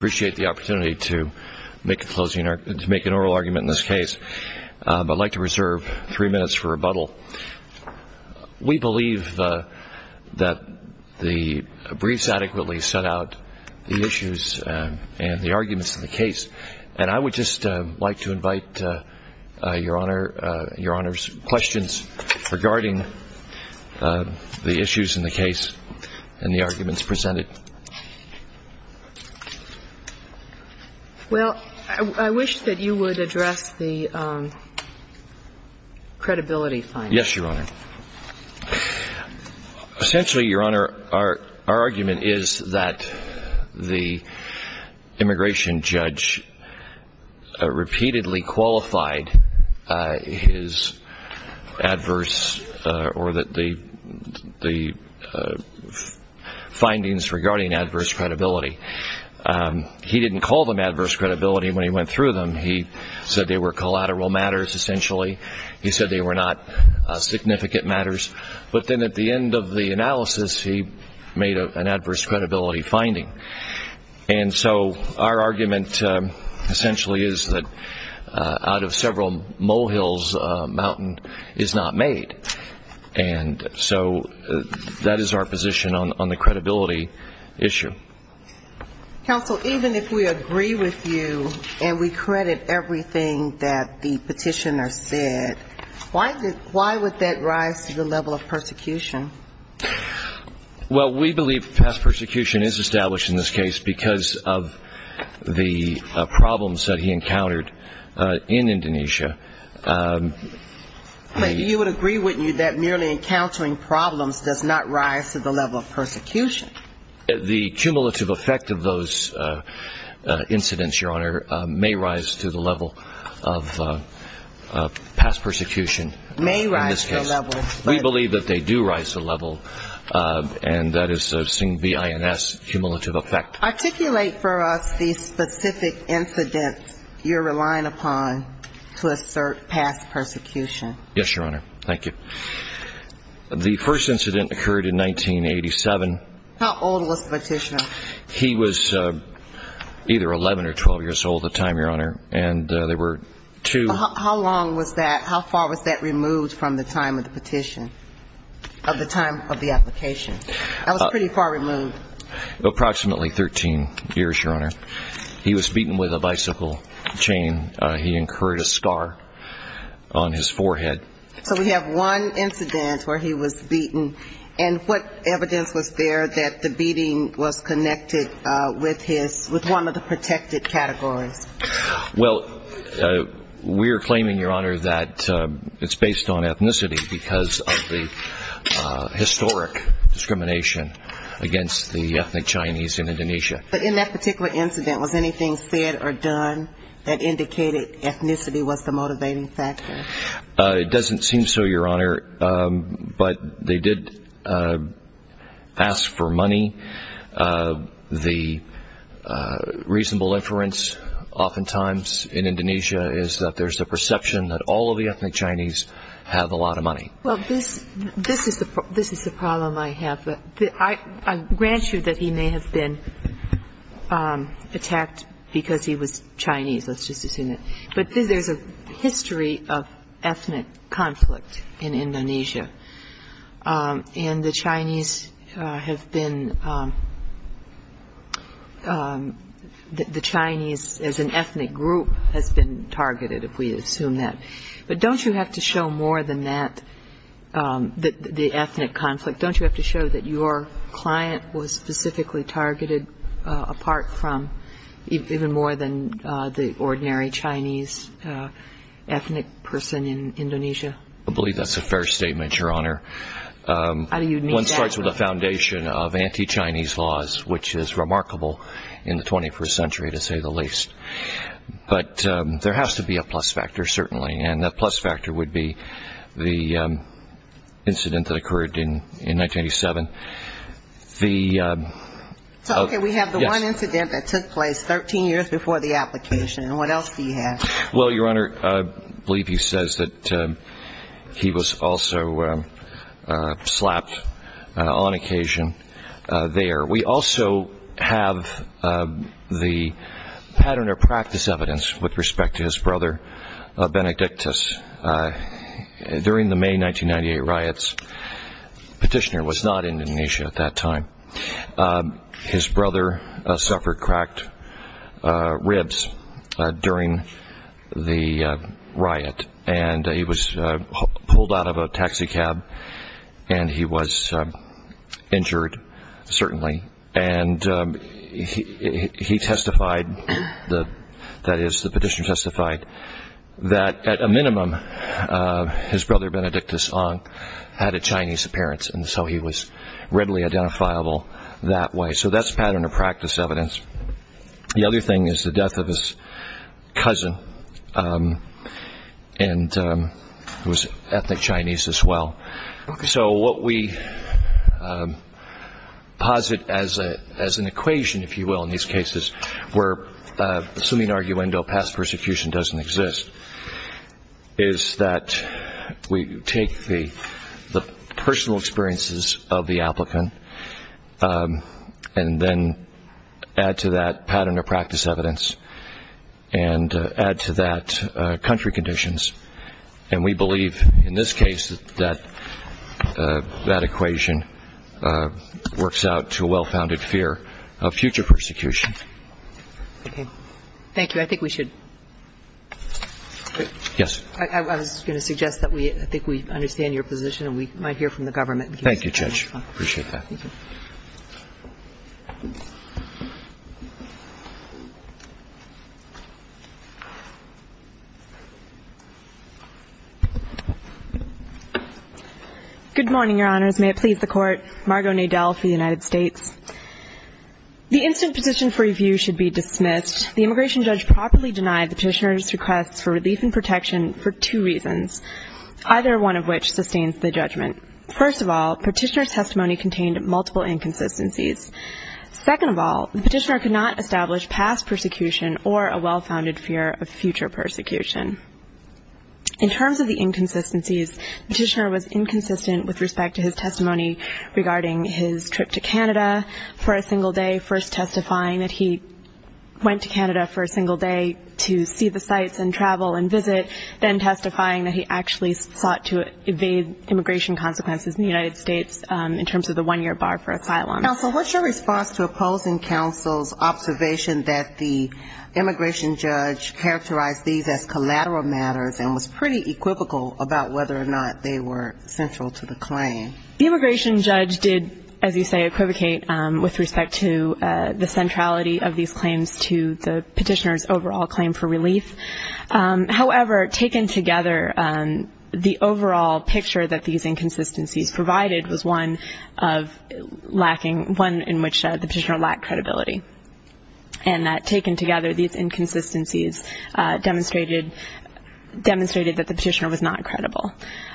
I appreciate the opportunity to make an oral argument in this case, but I'd like to reserve three minutes for rebuttal. We believe that the briefs adequately set out the issues and the arguments in the case, and I would just like to invite Your Honor's questions regarding the issues in the case and the arguments presented. Well, I wish that you would address the credibility findings. Yes, Your Honor. Essentially, Your Honor, our argument is that the immigration judge repeatedly qualified his adverse or the findings regarding adverse credibility. He didn't call them adverse credibility when he went through them. He said they were collateral matters, essentially. He said they were not significant matters. But then at the end of the analysis, he made an adverse credibility finding. And so our argument essentially is that out of several molehills, a mountain is not made. And so that is our position on the credibility issue. Counsel, even if we agree with you and we credit everything that the petitioner said, why would that rise to the level of persecution? Well, we believe past persecution is established in this case because of the problems that he encountered in Indonesia. But you would agree, wouldn't you, that merely encountering problems does not rise to the level of persecution? The cumulative effect of those incidents, Your Honor, may rise to the level of past persecution. May rise to the level of persecution. We believe that they do rise to the level, and that is seen V-I-N-S, cumulative effect. Articulate for us the specific incident you're relying upon to assert past persecution. Yes, Your Honor. Thank you. The first incident occurred in 1987. How old was the petitioner? He was either 11 or 12 years old at the time, Your Honor, and there were two --. How long was that? How far was that removed from the time of the petition, of the time of the application? That was pretty far removed. Approximately 13 years, Your Honor. He was beaten with a bicycle chain. He incurred a scar on his forehead. So we have one incident where he was beaten, and what evidence was there that the beating was connected with one of the protected categories? Well, we're claiming, Your Honor, that it's based on ethnicity because of the historic discrimination against the ethnic Chinese in Indonesia. But in that particular incident, was anything said or done that indicated ethnicity was the motivating factor? It doesn't seem so, Your Honor, but they did ask for money. The reasonable inference oftentimes in Indonesia is that there's a perception that all of the ethnic Chinese have a lot of money. Well, this is the problem I have. I grant you that he may have been attacked because he was Chinese. Let's just assume that. But there's a history of ethnic conflict in Indonesia, and the Chinese as an ethnic group has been targeted, if we assume that. But don't you have to show more than that, the ethnic conflict? Don't you have to show that your client was specifically targeted, apart from even more than the ordinary Chinese ethnic person in Indonesia? I believe that's a fair statement, Your Honor. One starts with a foundation of anti-Chinese laws, which is remarkable in the 21st century, to say the least. But there has to be a plus factor, certainly, and that plus factor would be the incident that occurred in 1987. Okay, we have the one incident that took place 13 years before the application. What else do you have? Well, Your Honor, I believe he says that he was also slapped on occasion there. We also have the pattern of practice evidence with respect to his brother, Benedictus. During the May 1998 riots, Petitioner was not in Indonesia at that time. His brother suffered cracked ribs during the riot, and he was pulled out of a taxi cab, and he was injured, certainly. And he testified, that is, the Petitioner testified, that at a minimum his brother, Benedictus, had a Chinese appearance, and so he was readily identifiable that way. So that's pattern of practice evidence. The other thing is the death of his cousin, who was ethnic Chinese as well. So what we posit as an equation, if you will, in these cases, where assuming arguendo, past persecution doesn't exist, is that we take the personal experiences of the applicant and then add to that pattern of practice evidence and add to that country conditions. And we believe in this case that that equation works out to a well-founded fear of future persecution. Okay. Thank you. Judge, I think we should. Yes. I was going to suggest that I think we understand your position, and we might hear from the government. Thank you, Judge. I appreciate that. Thank you. Good morning, Your Honors. May it please the Court. Margo Nadel for the United States. The instant position for review should be dismissed. The immigration judge properly denied the petitioner's request for relief and protection for two reasons, either one of which sustains the judgment. First of all, petitioner's testimony contained multiple inconsistencies. Second of all, the petitioner could not establish past persecution or a well-founded fear of future persecution. In terms of the inconsistencies, the petitioner was inconsistent with respect to his testimony regarding his trip to Canada for a single day, first testifying that he went to Canada for a single day to see the sites and travel and visit, then testifying that he actually sought to evade immigration consequences in the United States in terms of the one-year bar for asylum. Counsel, what's your response to opposing counsel's observation that the immigration judge characterized these as collateral matters and was pretty equivocal about whether or not they were central to the claim? The immigration judge did, as you say, equivocate with respect to the centrality of these claims to the petitioner's overall claim for relief. However, taken together, the overall picture that these inconsistencies provided was one of lacking, one in which the petitioner lacked credibility, and that taken together these inconsistencies demonstrated that the petitioner was not credible.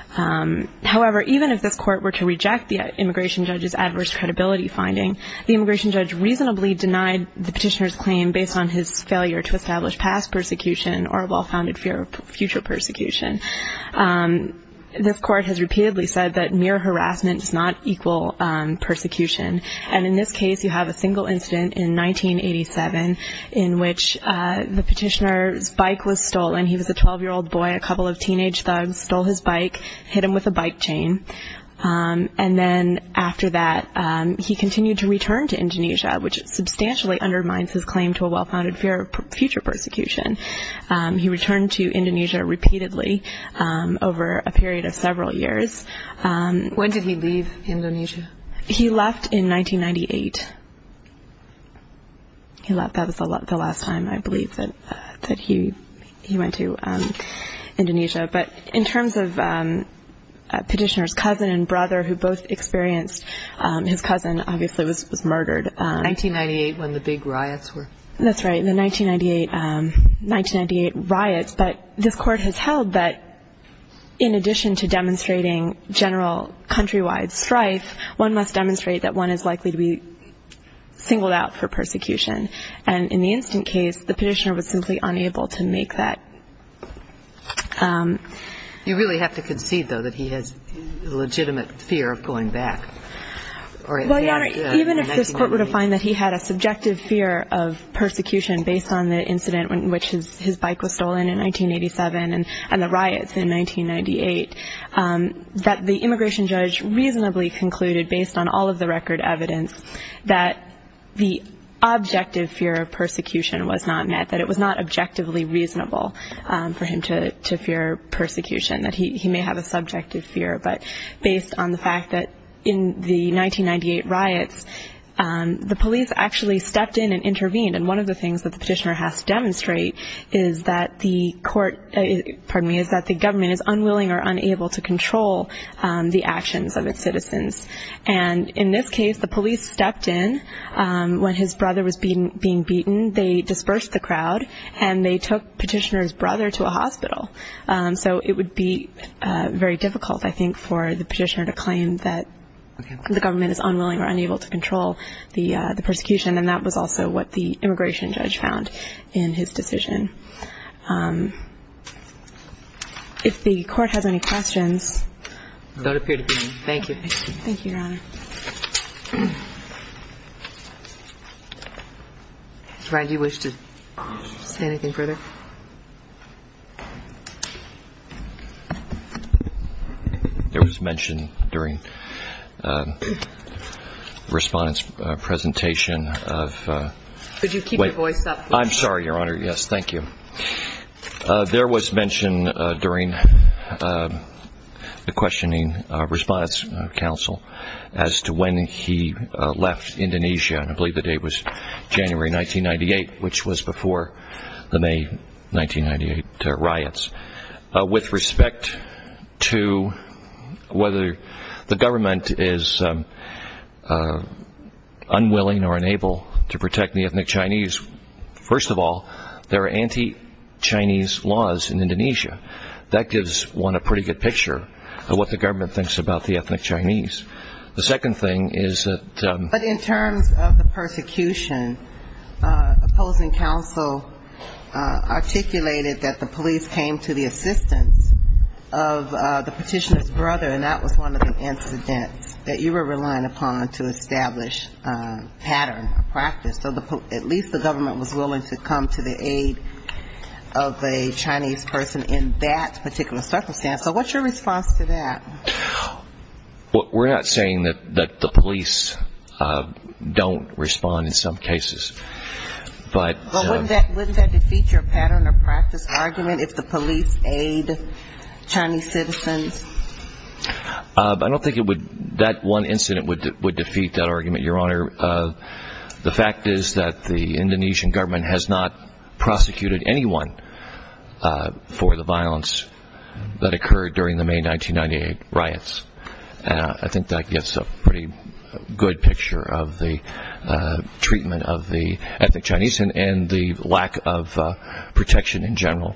However, even if this court were to reject the immigration judge's adverse credibility finding, the immigration judge reasonably denied the petitioner's claim based on his failure to establish past persecution or a well-founded fear of future persecution. This court has repeatedly said that mere harassment does not equal persecution, and in this case you have a single incident in 1987 in which the petitioner's bike was stolen. He was a 12-year-old boy. A couple of teenage thugs stole his bike, hit him with a bike chain, and then after that he continued to return to Indonesia, which substantially undermines his claim to a well-founded fear of future persecution. He returned to Indonesia repeatedly over a period of several years. When did he leave Indonesia? He left in 1998. That was the last time I believe that he went to Indonesia. But in terms of petitioner's cousin and brother who both experienced, his cousin obviously was murdered. 1998 when the big riots were. That's right, the 1998 riots. But this court has held that in addition to demonstrating general countrywide strife, one must demonstrate that one is likely to be singled out for persecution. And in the instant case, the petitioner was simply unable to make that. You really have to concede, though, that he has a legitimate fear of going back. Well, Your Honor, even if this court were to find that he had a subjective fear of persecution based on the incident in which his bike was stolen in 1987 and the riots in 1998, that the immigration judge reasonably concluded based on all of the record evidence that the objective fear of persecution was not met, that it was not objectively reasonable for him to fear persecution, that he may have a subjective fear. But based on the fact that in the 1998 riots, the police actually stepped in and intervened. And one of the things that the petitioner has to demonstrate is that the court, pardon me, is that the government is unwilling or unable to control the actions of its citizens. And in this case, the police stepped in. When his brother was being beaten, they dispersed the crowd, and they took petitioner's brother to a hospital. So it would be very difficult, I think, for the petitioner to claim that the government is unwilling or unable to control the persecution. And that was also what the immigration judge found in his decision. If the court has any questions. Don't appear to be. Thank you. Thank you, Your Honor. Mr. Ryan, do you wish to say anything further? There was mention during the respondents' presentation of the questioning response council as to when he left Indonesia. And I believe the date was January 1998, which was before the May 1998 riots. With respect to whether the government is unwilling or unable to protect the ethnic Chinese, first of all, there are anti-Chinese laws in Indonesia. That gives one a pretty good picture of what the government thinks about the ethnic Chinese. But in terms of the persecution, opposing counsel articulated that the police came to the assistance of the petitioner's brother, and that was one of the incidents that you were relying upon to establish pattern or practice. So at least the government was willing to come to the aid of a Chinese person in that particular circumstance. So what's your response to that? We're not saying that the police don't respond in some cases. But wouldn't that defeat your pattern or practice argument if the police aid Chinese citizens? I don't think that one incident would defeat that argument, Your Honor. The fact is that the Indonesian government has not prosecuted anyone for the violence that occurred during the May 1998 riots. And I think that gives a pretty good picture of the treatment of the ethnic Chinese and the lack of protection in general.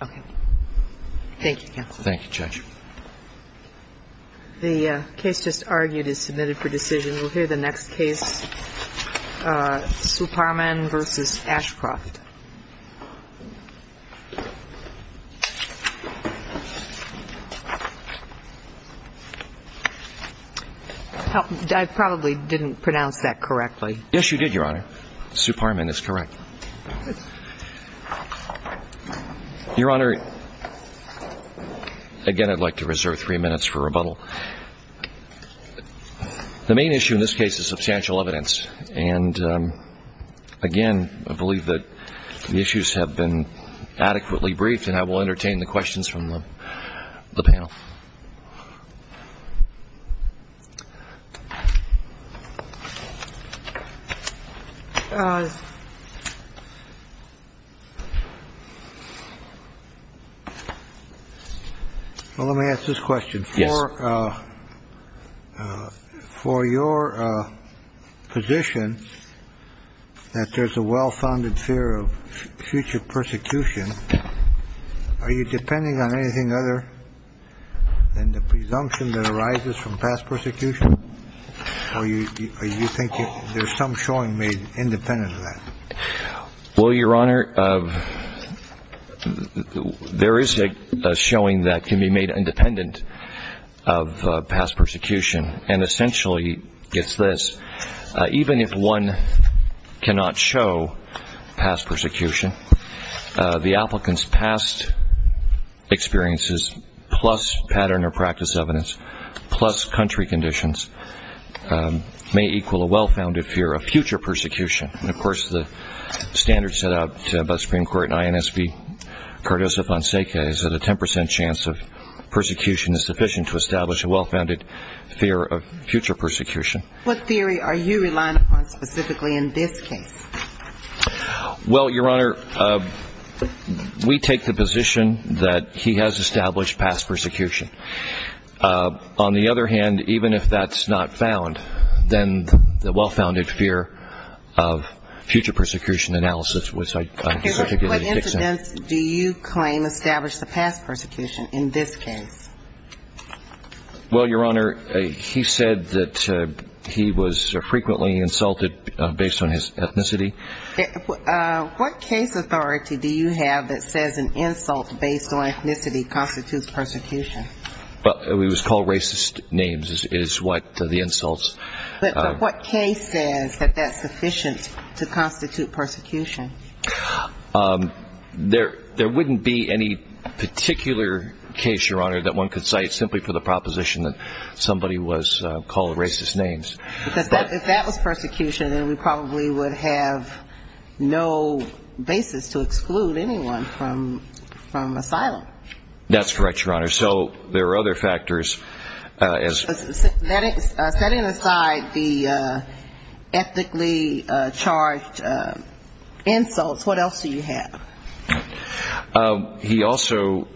Okay. Thank you, counsel. Thank you, Judge. The case just argued is submitted for decision. We'll hear the next case, Suparman v. Ashcroft. I probably didn't pronounce that correctly. Yes, you did, Your Honor. Suparman is correct. Your Honor, again, I'd like to reserve three minutes for rebuttal. The main issue in this case is substantial evidence. And, again, I believe that the issues have been adequately briefed, and I will entertain the questions from the panel. Well, let me ask this question. Yes. For your position that there's a well-founded fear of future persecution, are you depending on anything other than the presumption that arises from past persecution, or do you think there's some showing made independent of that? Well, Your Honor, there is a showing that can be made independent of past persecution, and essentially it's this. Even if one cannot show past persecution, the applicant's past experiences, plus pattern or practice evidence, plus country conditions, may equal a well-founded fear of future persecution. And, of course, the standard set out by Supreme Court and INSB, Cardozo-Fonseca is that a 10% chance of persecution is sufficient to establish a well-founded fear of future persecution. What theory are you relying upon specifically in this case? Well, Your Honor, we take the position that he has established past persecution. On the other hand, even if that's not found, then the well-founded fear of future persecution analysis was particularly fixed. What incidents do you claim established the past persecution in this case? Well, Your Honor, he said that he was frequently insulted based on his ethnicity. What case authority do you have that says an insult based on ethnicity constitutes persecution? It was called racist names is what the insults. But what case says that that's sufficient to constitute persecution? There wouldn't be any particular case, Your Honor, that one could cite simply for the proposition that somebody was called racist names. Because if that was persecution, then we probably would have no basis to exclude anyone from asylum. That's correct, Your Honor. So there are other factors. Setting aside the ethically charged insults, what else do you have? He also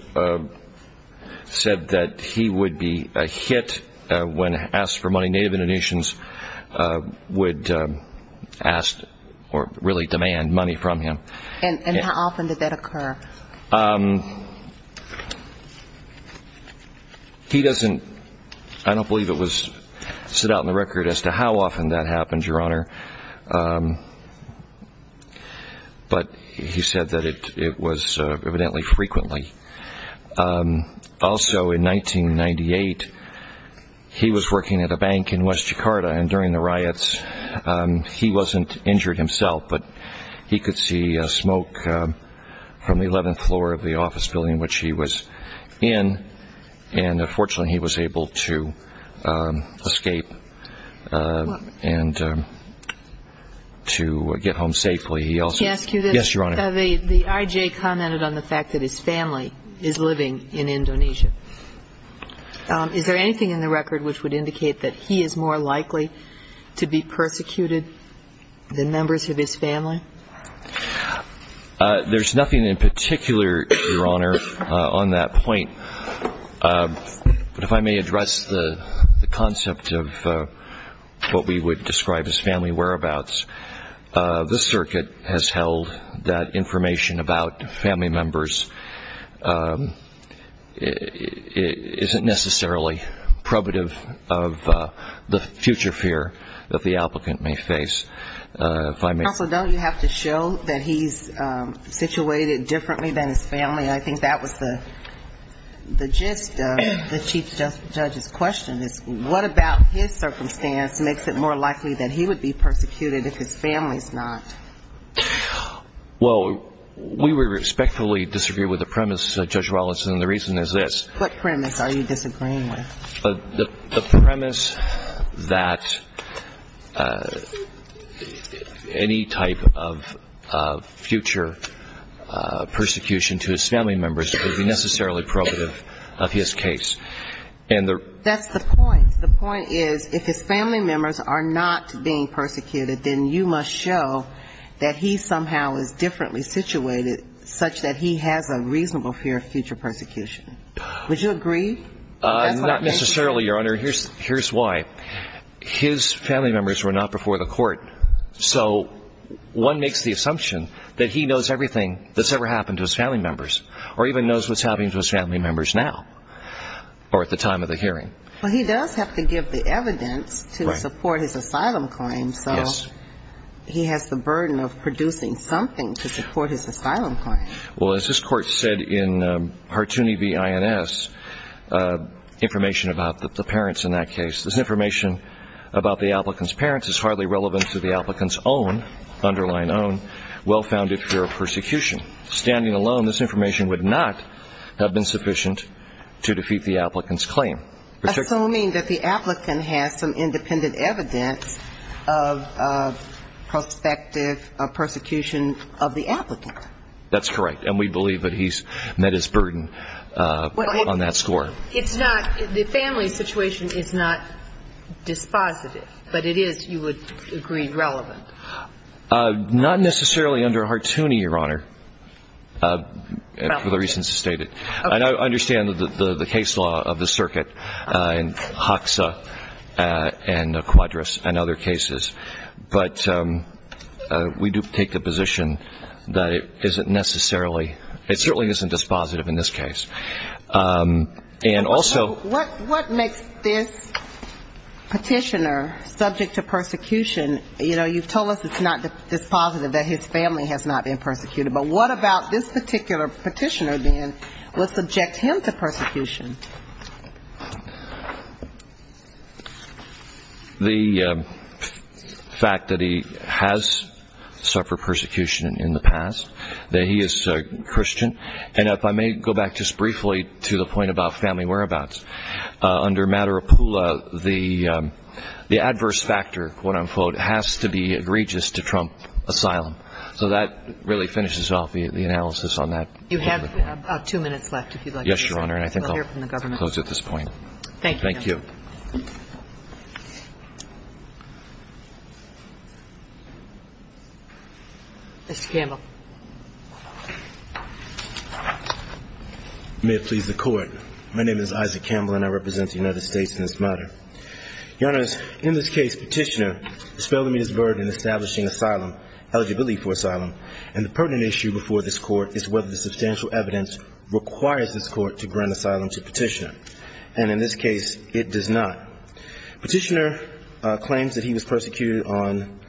said that he would be a hit when asked for money. Native Indonesians would ask or really demand money from him. And how often did that occur? He doesn't – I don't believe it was set out in the record as to how often that happened, Your Honor. But he said that it was evidently frequently. Also, in 1998, he was working at a bank in West Jakarta. And during the riots, he wasn't injured himself, but he could see smoke from the 11th floor of the office building in which he was in. And fortunately, he was able to escape and to get home safely. He also – Can I ask you this? Yes, Your Honor. The IJ commented on the fact that his family is living in Indonesia. Is there anything in the record which would indicate that he is more likely to be persecuted than members of his family? There's nothing in particular, Your Honor, on that point. But if I may address the concept of what we would describe as family whereabouts, the circuit has held that information about family members isn't necessarily probative of the future fear that the applicant may face. Counsel, don't you have to show that he's situated differently than his family? I think that was the gist of the Chief Judge's question is what about his circumstance makes it more likely that he would be persecuted if his family is not? Well, we respectfully disagree with the premise, Judge Wallace, and the reason is this. What premise are you disagreeing with? The premise that any type of future persecution to his family members would be necessarily probative of his case. That's the point. The point is if his family members are not being persecuted, then you must show that he somehow is differently situated such that he has a reasonable fear of future persecution. Would you agree? Not necessarily, Your Honor. Here's why. His family members were not before the court, so one makes the assumption that he knows everything that's ever happened to his family members or even knows what's happening to his family members now or at the time of the hearing. Well, he does have to give the evidence to support his asylum claim, so he has the burden of producing something to support his asylum claim. Well, as this Court said in Hartooni v. INS, information about the parents in that case, this information about the applicant's parents is hardly relevant to the applicant's own, underline own, well-founded fear of persecution. Standing alone, this information would not have been sufficient to defeat the applicant's claim. Assuming that the applicant has some independent evidence of prospective persecution of the applicant. That's correct. And we believe that he's met his burden on that score. It's not the family situation is not dispositive, but it is, you would agree, relevant. Not necessarily under Hartooni, Your Honor, for the reasons stated. And I understand the case law of the circuit in Hoxa and Quadras and other cases, but we do take the position that it isn't necessarily, it certainly isn't dispositive in this case. And also what makes this petitioner subject to persecution? You know, you've told us it's not dispositive that his family has not been persecuted, but what about this particular petitioner then? What subject him to persecution? The fact that he has suffered persecution in the past, that he is a Christian. And if I may go back just briefly to the point about family whereabouts. Under Madaripula, the adverse factor, quote-unquote, has to be egregious to trump asylum. So that really finishes off the analysis on that. You have about two minutes left, if you'd like to say something. Yes, Your Honor. I think I'll close at this point. Thank you. Thank you. Mr. Campbell. May it please the Court. My name is Isaac Campbell, and I represent the United States in this matter. Your Honor, in this case, petitioner dispelled to me his burden establishing asylum, eligibility for asylum. And the pertinent issue before this Court is whether the substantial evidence requires this Court to grant asylum to petitioner. And in this case, it does not. Petitioner claims that he was persecuted on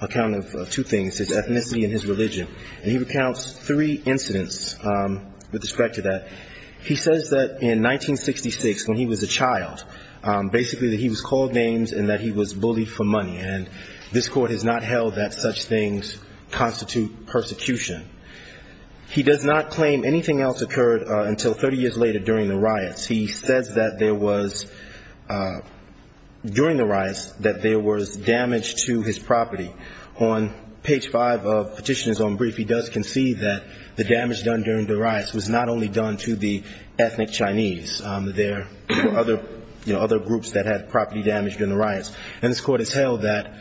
account of two things, his ethnicity and his religion. And he recounts three incidents with respect to that. He says that in 1966, when he was a child, basically that he was called names and that he was bullied for money. And this Court has not held that such things constitute persecution. He does not claim anything else occurred until 30 years later during the riots. He says that there was, during the riots, that there was damage to his property. On page five of Petitioner's Own Brief, he does concede that the damage done during the riots was not only done to the ethnic Chinese. There were other groups that had property damage during the riots. And this Court has held that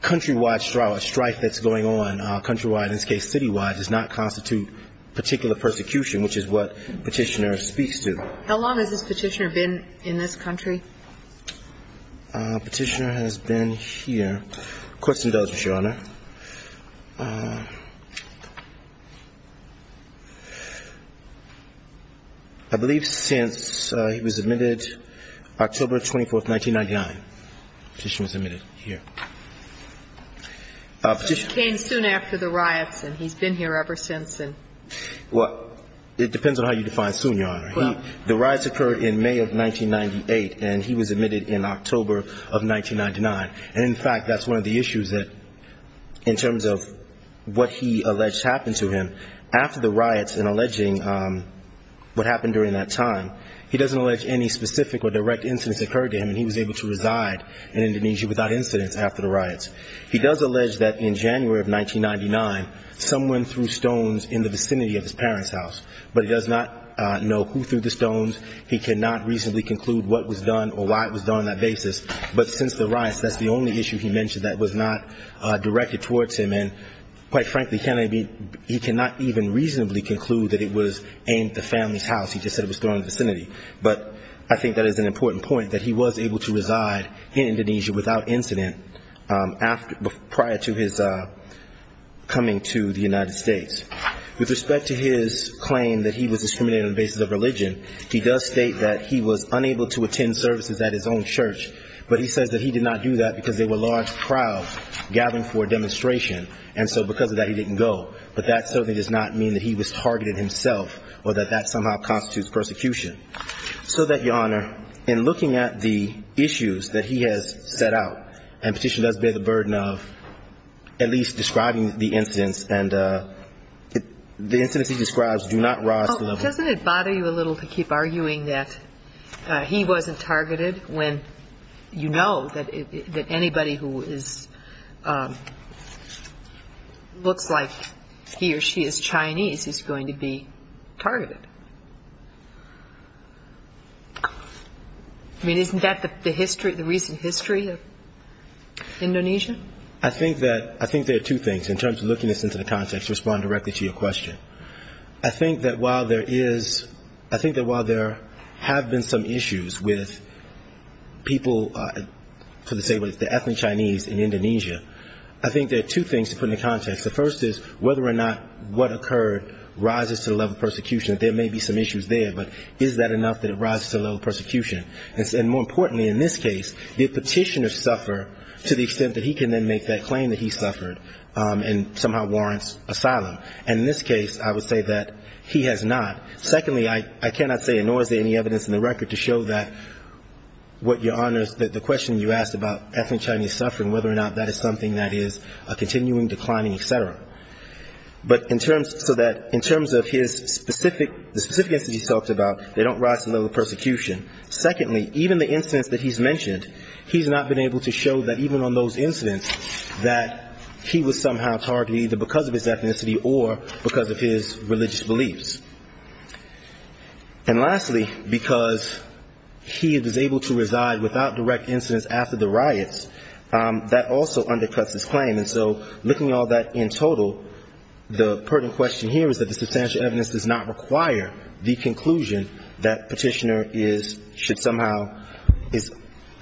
countrywide strife that's going on, countrywide, in this case citywide, does not constitute particular persecution, which is what petitioner speaks to. How long has this petitioner been in this country? Petitioner has been here. Of course he does, Your Honor. I believe since he was admitted October 24th, 1999. Petitioner was admitted here. Petitioner. He came soon after the riots, and he's been here ever since. Well, it depends on how you define soon, Your Honor. Well. The riots occurred in May of 1998, and he was admitted in October of 1999. And, in fact, that's one of the issues that, in terms of what he alleged happened to him, after the riots and alleging what happened during that time, he doesn't allege any specific or direct incidents occurred to him, and he was able to reside in Indonesia without incidents after the riots. He does allege that in January of 1999, someone threw stones in the vicinity of his parents' house. But he does not know who threw the stones. He cannot reasonably conclude what was done or why it was done on that basis. But since the riots, that's the only issue he mentioned that was not directed towards him. And, quite frankly, he cannot even reasonably conclude that it was aimed at the family's house. He just said it was thrown in the vicinity. But I think that is an important point, that he was able to reside in Indonesia without incident prior to his coming to the United States. With respect to his claim that he was discriminated on the basis of religion, he does state that he was unable to attend services at his own church, but he says that he did not do that because there were large crowds gathering for a demonstration, and so because of that he didn't go. But that certainly does not mean that he was targeted himself or that that somehow constitutes persecution. So that, Your Honor, in looking at the issues that he has set out, and Petitioner does bear the burden of at least describing the incidents, and the incidents he describes do not rise to the level of – Doesn't it bother you a little to keep arguing that he wasn't targeted, when you know that anybody who is – looks like he or she is Chinese is going to be targeted? I mean, isn't that the history, the recent history of Indonesia? I think that – I think there are two things, in terms of looking this into the context, to respond directly to your question. I think that while there is – I think that while there have been some issues with people, for example, the ethnic Chinese in Indonesia, I think there are two things to put into context. The first is whether or not what occurred rises to the level of persecution. There may be some issues there, but is that enough that it rises to the level of persecution? And more importantly, in this case, did Petitioner suffer to the extent that he can then make that claim that he suffered and somehow warrants asylum? And in this case, I would say that he has not. Secondly, I cannot say, nor is there any evidence in the record to show that what your Honor, the question you asked about ethnic Chinese suffering, whether or not that is something that is a continuing, declining, et cetera. But in terms – so that in terms of his specific – the specific incidents he talked about, they don't rise to the level of persecution. Secondly, even the incidents that he's mentioned, he's not been able to show that even on those incidents, that he was somehow targeted either because of his ethnicity or because of his religious beliefs. And lastly, because he was able to reside without direct incidents after the riots, that also undercuts his claim. And so looking at all that in total, the pertinent question here is that the substantial evidence does not require the conclusion that Petitioner is – should somehow – is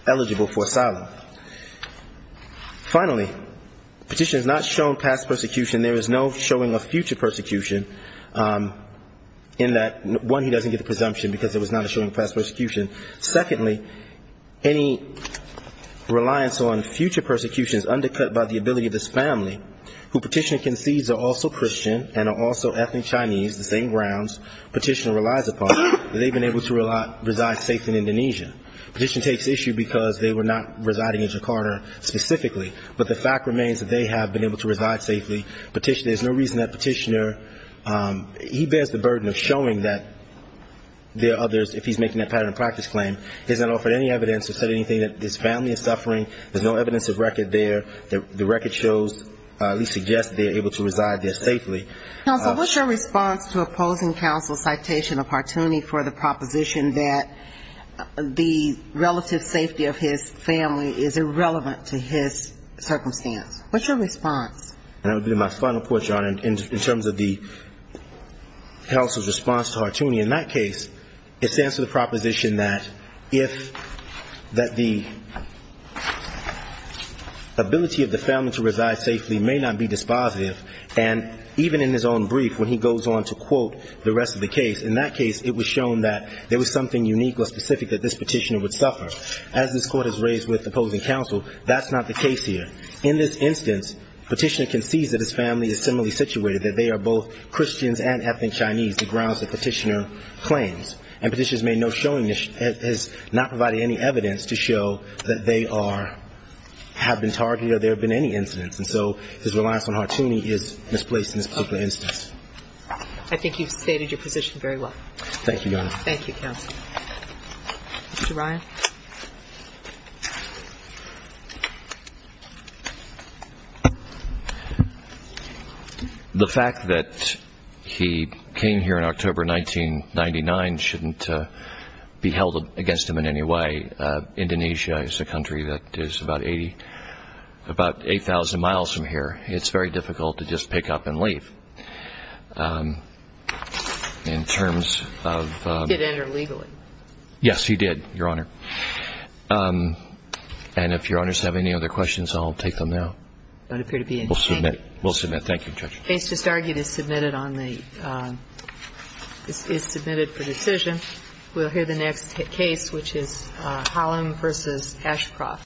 eligible for asylum. Finally, Petitioner has not shown past persecution. There is no showing of future persecution in that, one, he doesn't get the presumption because there was not a showing of past persecution. Secondly, any reliance on future persecution is undercut by the ability of this family, who Petitioner concedes are also Christian and are also ethnic Chinese, the same grounds Petitioner relies upon, that they've been able to reside safely in Indonesia. Petitioner takes issue because they were not residing in Jakarta specifically, but the fact remains that they have been able to reside safely. There's no reason that Petitioner – he bears the burden of showing that there are others, if he's making that pattern of practice claim. He hasn't offered any evidence to say anything that this family is suffering. There's no evidence of record there. The record shows, at least suggests, that they are able to reside there safely. Counsel, what's your response to opposing counsel's citation of Hartooni for the proposition that the relative safety of his family is irrelevant to his circumstance? What's your response? And that would be my final point, Your Honor, in terms of the counsel's response to Hartooni. In that case, it stands to the proposition that if the ability of the family to reside safely may not be dispositive, and even in his own brief, when he goes on to quote the rest of the case, in that case it was shown that there was something unique or specific that this petitioner would suffer. As this court has raised with opposing counsel, that's not the case here. In this instance, Petitioner concedes that his family is similarly situated, that they are both Christians and ethnic Chinese, the grounds that Petitioner claims. And Petitioner has made no showing – has not provided any evidence to show that they are – have been targeted or there have been any incidents. And so his reliance on Hartooni is misplaced in this particular instance. Okay. I think you've stated your position very well. Thank you, Your Honor. Thank you, counsel. Mr. Ryan. The fact that he came here in October 1999 shouldn't be held against him in any way. Indonesia is a country that is about 80 – about 8,000 miles from here. It's very difficult to just pick up and leave in terms of – He did enter legally. Yes, he did, Your Honor. And if Your Honors have any other questions, I'll take them now. Don't appear to be in – We'll submit. We'll submit. Thank you, Judge. The case just argued is submitted on the – is submitted for decision. We'll hear the next case, which is Holland v. Ashcroft.